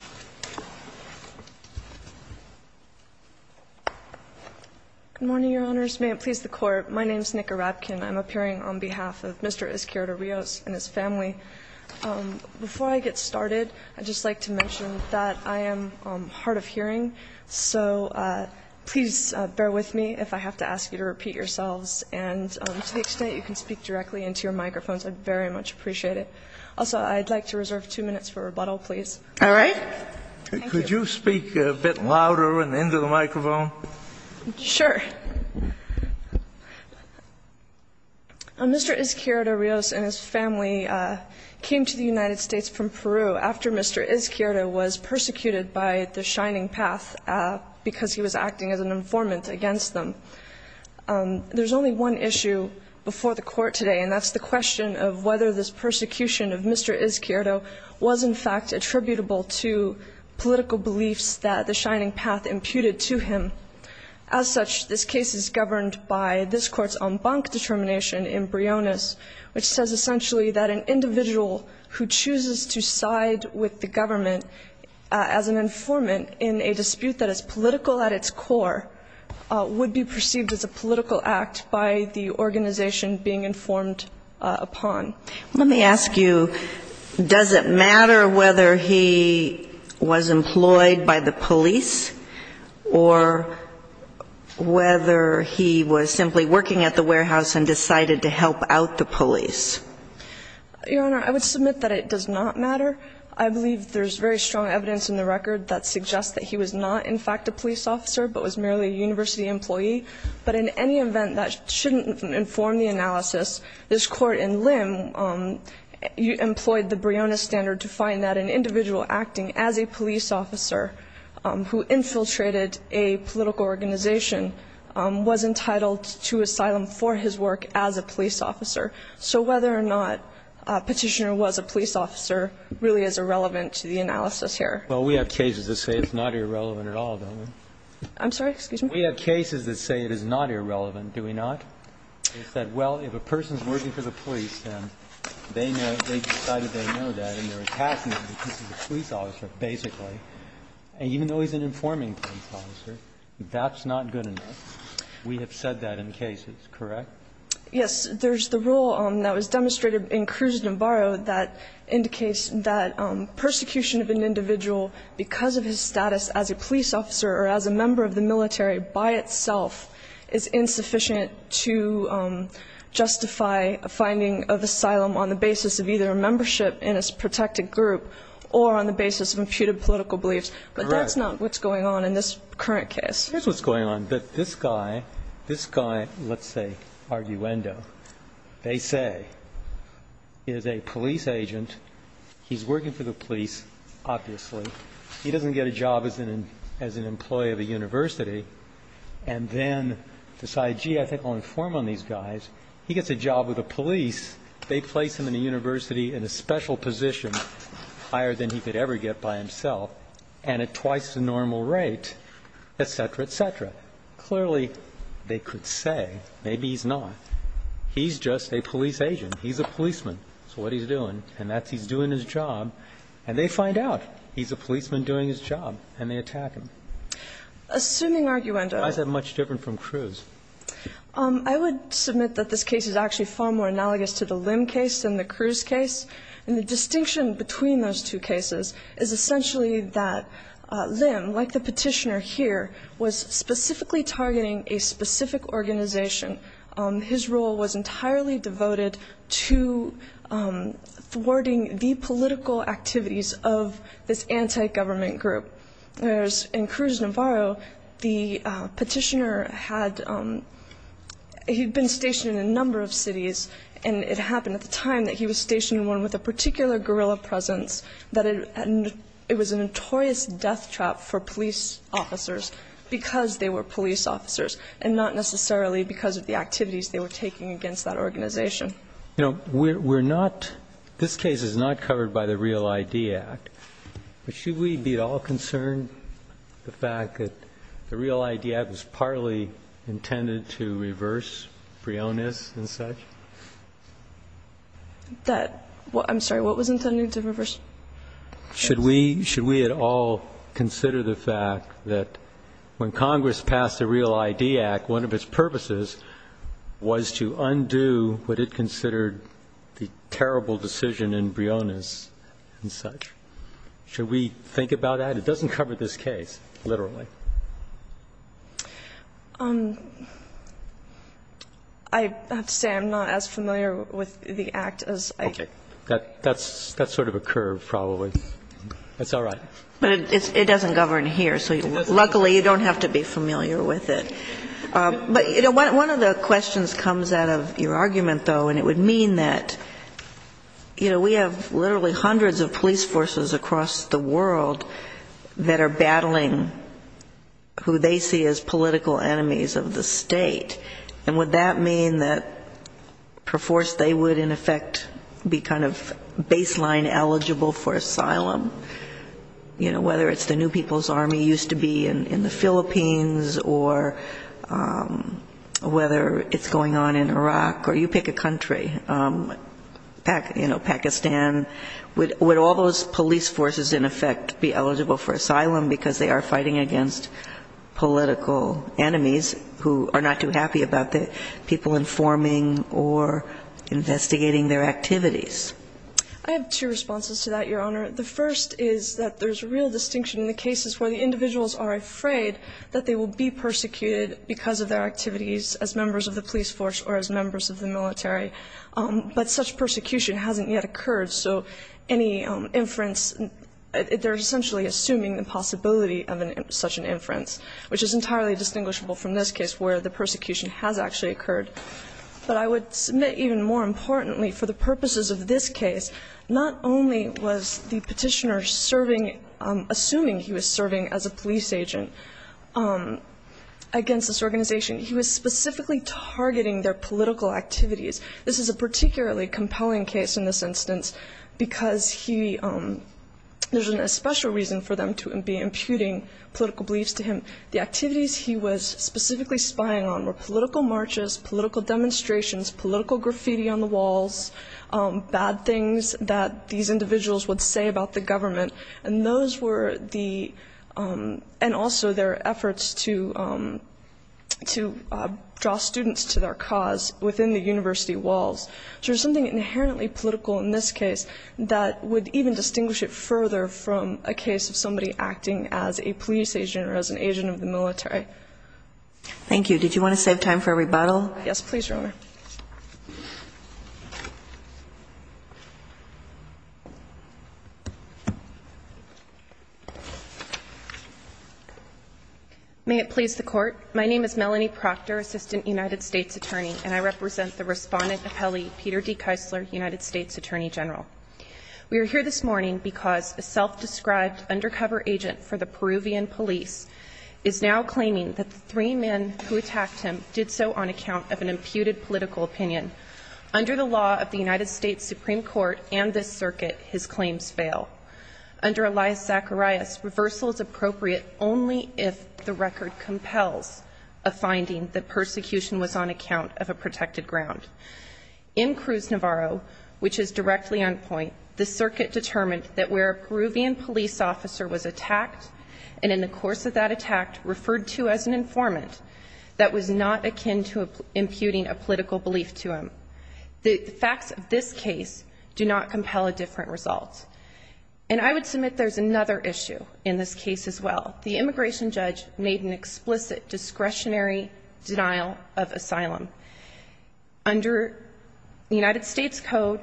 Good morning, Your Honors. May it please the Court, my name is Nica Rapkin. I'm appearing on behalf of Mr. Izquierdo-Rios and his family. Before I get started, I'd just like to mention that I am hard of hearing, so please bear with me if I have to ask you to repeat yourselves. And to the extent you can speak directly into your microphones, I'd very much appreciate it. Also, I'd like to reserve two minutes for rebuttal, please. All right? Could you speak a bit louder and into the microphone? Sure. Mr. Izquierdo-Rios and his family came to the United States from Peru after Mr. Izquierdo was persecuted by the Shining Path because he was acting as an informant against them. There's only one issue before the court today, and that's the question of whether this persecution of Mr. Izquierdo was in fact attributable to political beliefs that the Shining Path imputed to him. As such, this case is governed by this court's en banc determination in Briones, which says essentially that an individual who chooses to side with the government as an informant in a dispute that is political at its core would be perceived as a political act by the organization being informed upon. Let me ask you, does it matter whether he was employed by the police, or whether he was simply working at the warehouse and decided to help out the police? Your Honor, I would submit that it does not matter. I believe there's very strong evidence in the record that suggests that he was not in fact a police officer, but was merely a university employee. But in any event, that shouldn't inform the analysis. This court in Lim employed the Briones standard to find that an individual acting as a police officer who infiltrated a political organization was entitled to asylum for his work as a police officer. So whether or not Petitioner was a police officer really is irrelevant to the analysis here. Well, we have cases that say it's not irrelevant at all, don't we? I'm sorry, excuse me? We have cases that say it is not irrelevant, do we not? They said, well, if a person's working for the police, then they know, they decided they know that, and they're passing him because he's a police officer, basically. And even though he's an informing police officer, that's not good enough. We have said that in cases, correct? Yes, there's the rule that was demonstrated in Cruz-Navarro that indicates that persecution of an individual because of his status as a police officer or as a member of the military by itself is insufficient to justify a finding of asylum on the basis of either a membership in a protected group or on the basis of imputed political beliefs, but that's not what's going on in this current case. Here's what's going on, that this guy, this guy, let's say, Arguendo, they say is a police agent, he's working for the police, obviously. He doesn't get a job as an employee of a university, and then decide, gee, I think I'll inform on these guys. He gets a job with the police, they place him in a university in a special position higher than he could ever get by himself, and at twice the normal rate, et cetera, et cetera. Clearly, they could say, maybe he's not, he's just a police agent, he's a policeman, that's what he's doing, and that's he's doing his job, and they find out, he's a policeman doing his job, and they attack him. Assuming Arguendo- I said much different from Cruz. I would submit that this case is actually far more analogous to the Lim case than the Cruz case. And the distinction between those two cases is essentially that Lim, like the petitioner here, was specifically targeting a specific organization. His role was entirely devoted to thwarting the political activities of this anti-government group. Whereas in Cruz Navarro, the petitioner had, he'd been stationed in a number of cities, and it happened at the time that he was stationed with a particular guerrilla presence, that it was a notorious death trap for police officers, because they were police officers, and not necessarily because of the activities they were taking against that organization. You know, we're not, this case is not covered by the Real ID Act, but should we be at all concerned the fact that the Real ID Act was partly intended to reverse Freonis and such? That, I'm sorry, what was intended to reverse? Should we at all consider the fact that when Congress passed the Real ID Act, one of its purposes was to undo what it considered the terrible decision in Freonis and such? Should we think about that? It doesn't cover this case, literally. I have to say, I'm not as familiar with the act as I- Okay, that's sort of a curve, probably, that's all right. But it doesn't govern here, so luckily, you don't have to be familiar with it. But one of the questions comes out of your argument, though, and it would mean that we have literally hundreds of police forces across the world that are battling who they see as political enemies of the state. And would that mean that, per force, they would, in effect, be kind of baseline eligible for asylum? You know, whether it's the New People's Army used to be in the Philippines, or whether it's going on in Iraq, or you pick a country, you know, Pakistan. Would all those police forces, in effect, be eligible for asylum because they are fighting against political enemies who are not too happy about the people informing or investigating their activities? I have two responses to that, Your Honor. The first is that there's real distinction in the cases where the individuals are afraid that they will be persecuted because of their activities as members of the police force or as members of the military, but such persecution hasn't yet occurred. So any inference, they're essentially assuming the possibility of such an inference, which is entirely distinguishable from this case where the persecution has actually occurred. But I would submit even more importantly, for the purposes of this case, not only was the petitioner assuming he was serving as a police agent against this organization, he was specifically targeting their political activities. This is a particularly compelling case in this instance because he, there's a special reason for them to be imputing political beliefs to him. The activities he was specifically spying on were political marches, political demonstrations, political graffiti on the walls, bad things that these individuals would say about the government. And those were the, and also their efforts to draw students to their cause within the university walls. So there's something inherently political in this case that would even distinguish it further from a case of somebody acting as a police agent or as an agent of the military. Thank you. Did you want to save time for a rebuttal? Yes, please, Your Honor. May it please the court. My name is Melanie Proctor, Assistant United States Attorney, and I represent the respondent appellee, Peter D. Keisler, United States Attorney General. We are here this morning because a self-described undercover agent for the Peruvian police is now claiming that the three men who attacked him did so on account of an imputed political opinion. Under the law of the United States Supreme Court and this circuit, his claims fail. Under Elias Zacharias, reversal is appropriate only if the record compels a finding that persecution was on account of a protected ground. In Cruz Navarro, which is directly on point, the circuit determined that where a Peruvian police officer was attacked, and in the course of that attack referred to as an informant, that was not akin to imputing a political belief to him. The facts of this case do not compel a different result. And I would submit there's another issue in this case as well. The immigration judge made an explicit discretionary denial of asylum. Under the United States Code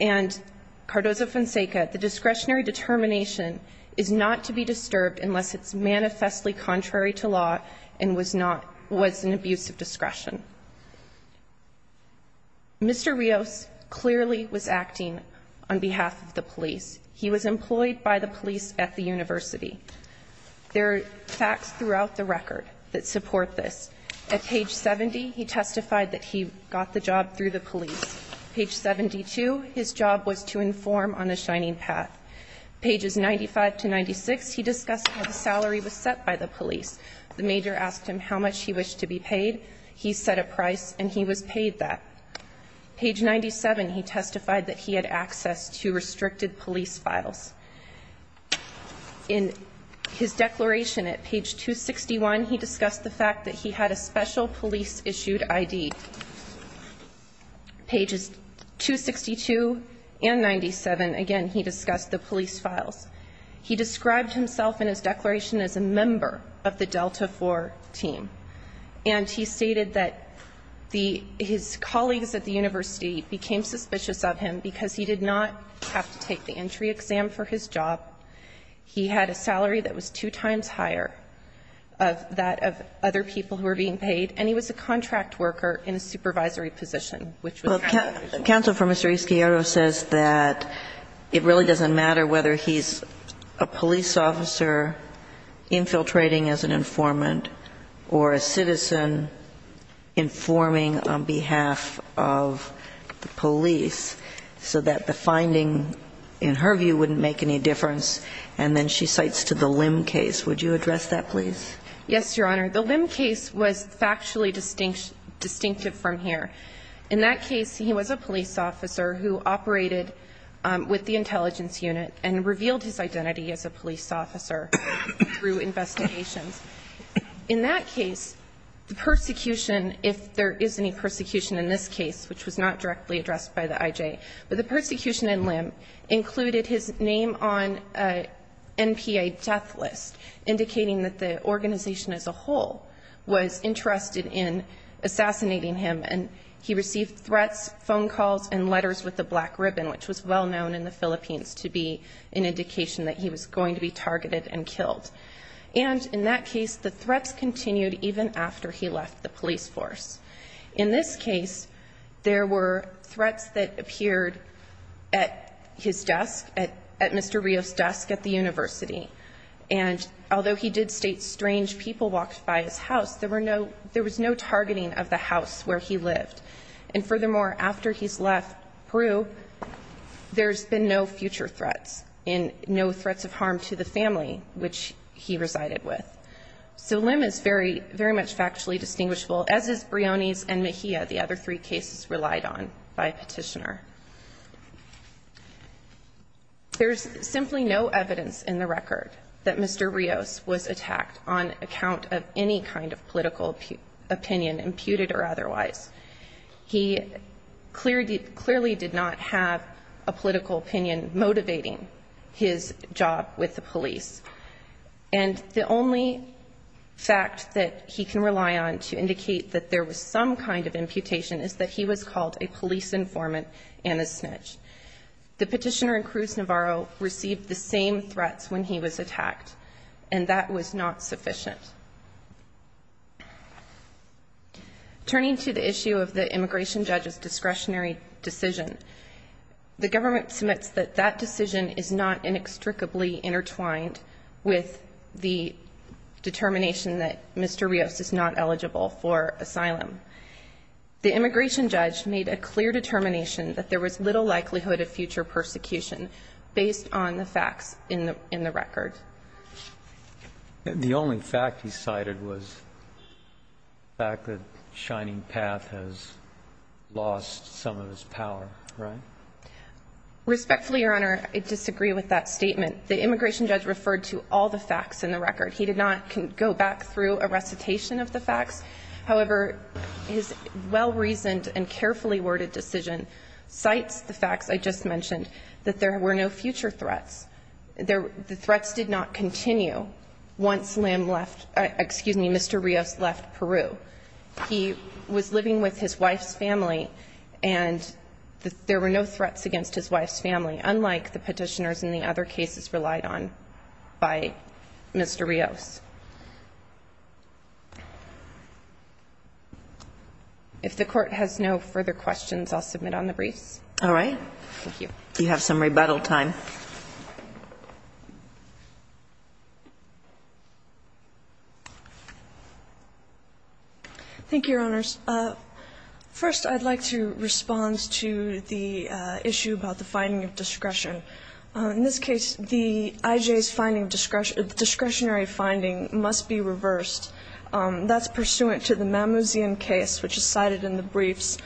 and Cardozo-Fonseca, the discretionary determination is not to be disturbed unless it's manifestly contrary to law and was an abuse of discretion. Mr. Rios clearly was acting on behalf of the police. He was employed by the police at the university. There are facts throughout the record that support this. At page 70, he testified that he got the job through the police. Page 72, his job was to inform on a shining path. Pages 95 to 96, he discussed how the salary was set by the police. The major asked him how much he wished to be paid. He said a price and he was paid that. Page 97, he testified that he had access to restricted police files. In his declaration at page 261, he discussed the fact that he had a special police issued ID. Pages 262 and 97, again, he discussed the police files. He described himself in his declaration as a member of the Delta 4 team. And he stated that his colleagues at the university became suspicious of him because he did not have to take the entry exam for his job. He had a salary that was two times higher of that of other people who were being paid. And he was a contract worker in a supervisory position. Which was- Counsel for Mr. Isquiero says that it really doesn't matter whether he's a police officer infiltrating as an informant or a citizen informing on behalf of the police. So that the finding, in her view, wouldn't make any difference. And then she cites to the Lim case. Would you address that please? Yes, Your Honor. The Lim case was factually distinctive from here. In that case, he was a police officer who operated with the intelligence unit and revealed his identity as a police officer through investigations. In that case, the persecution, if there is any persecution in this case, which was not directly addressed by the IJ. But the persecution in Lim included his name on a NPA death list, indicating that the organization as a whole was interested in assassinating him. And he received threats, phone calls, and letters with a black ribbon, which was well known in the Philippines to be an indication that he was going to be targeted and killed. And in that case, the threats continued even after he left the police force. In this case, there were threats that appeared at his desk, at Mr. Rios' desk at the university. And although he did state strange people walked by his house, there was no targeting of the house where he lived. And furthermore, after he's left Peru, there's been no future threats, and no threats of harm to the family which he resided with. So Lim is very much factually distinguishable, as is Briones and Mejia, the other three cases relied on by petitioner. There's simply no evidence in the record that Mr. Rios was attacked on account of any kind of political opinion, imputed or otherwise. He clearly did not have a political opinion motivating his job with the police. And the only fact that he can rely on to indicate that there was some kind of imputation is that he was called a police informant and a snitch. The petitioner in Cruz Navarro received the same threats when he was attacked, and that was not sufficient. Turning to the issue of the immigration judge's discretionary decision, the government submits that that decision is not inextricably intertwined with the determination that Mr. Rios is not eligible for asylum. The immigration judge made a clear determination that there was little likelihood of future persecution based on the facts in the record. The only fact he cited was the fact that Shining Path has lost some of its power, right? Respectfully, Your Honor, I disagree with that statement. The immigration judge referred to all the facts in the record. He did not go back through a recitation of the facts. However, his well-reasoned and carefully worded decision cites the facts I just mentioned, that there were no future threats. The threats did not continue once Mr. Rios left Peru. He was living with his wife's family, and there were no threats against his wife's family, unlike the petitioners in the other cases relied on by Mr. Rios. If the court has no further questions, I'll submit on the briefs. All right. Thank you. You have some rebuttal time. Thank you, Your Honors. First, I'd like to respond to the issue about the finding of discretion. In this case, the IJ's discretionary finding must be reversed. That's pursuant to the Mamouzian case, which is cited in the briefs.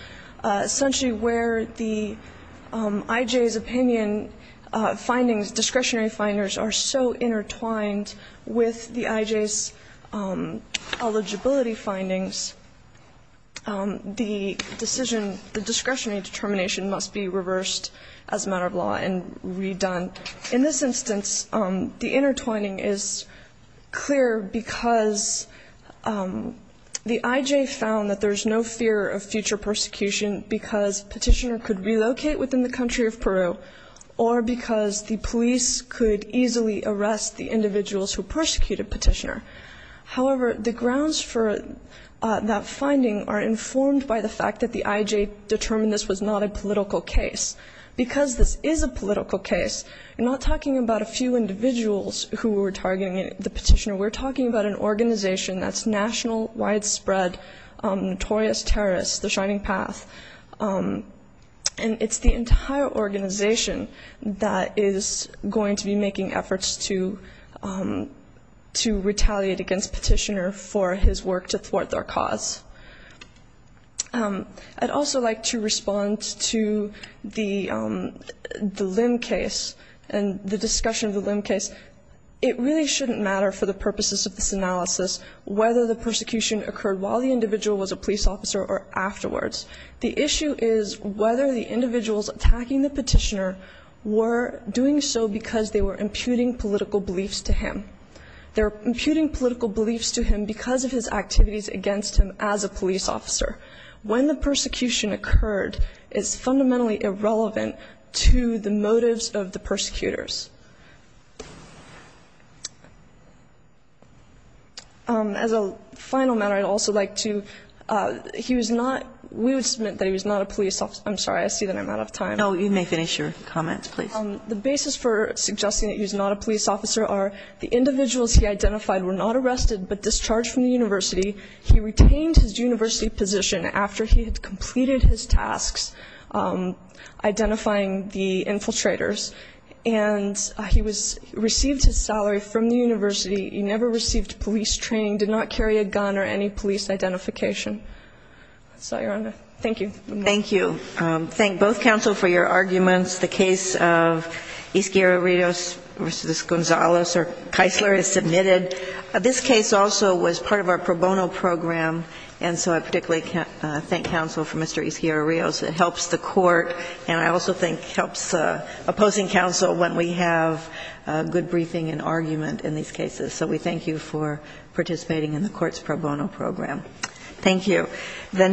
Essentially, where the IJ's opinion findings, discretionary finders are so intertwined with the IJ's eligibility findings. The decision, the discretionary determination must be reversed as a matter of law and redone. In this instance, the intertwining is clear because the IJ found that there's no fear of future persecution because petitioner could relocate within the country of Peru. Or because the police could easily arrest the individuals who persecuted petitioner. However, the grounds for that finding are informed by the fact that the IJ determined this was not a political case. Because this is a political case, we're not talking about a few individuals who were targeting the petitioner. We're talking about an organization that's national, widespread, notorious terrorist, The Shining Path. And it's the entire organization that is going to be making efforts to retaliate against petitioner for his work to thwart their cause. I'd also like to respond to the limb case and the discussion of the limb case. It really shouldn't matter for the purposes of this analysis whether the persecution occurred while the individual was a police officer or afterwards. The issue is whether the individuals attacking the petitioner were doing so because they were imputing political beliefs to him. They're imputing political beliefs to him because of his activities against him as a police officer. When the persecution occurred, it's fundamentally irrelevant to the motives of the persecutors. As a final matter, I'd also like to, he was not, we would submit that he was not a police officer. I'm sorry, I see that I'm out of time. No, you may finish your comments, please. The basis for suggesting that he's not a police officer are the individuals he identified were not arrested but discharged from the university. He retained his university position after he had completed his tasks identifying the infiltrators and he received his salary from the university. He never received police training, did not carry a gun or any police identification. That's all you're under. Thank you. Thank you. Thank both counsel for your arguments. The case of Izquierdo Rios versus Gonzales or Keisler is submitted. This case also was part of our pro bono program and so I particularly thank counsel for Mr. Izquierdo Rios. It helps the court and I also think helps opposing counsel when we have good briefing and argument in these cases. So we thank you for participating in the court's pro bono program. Thank you.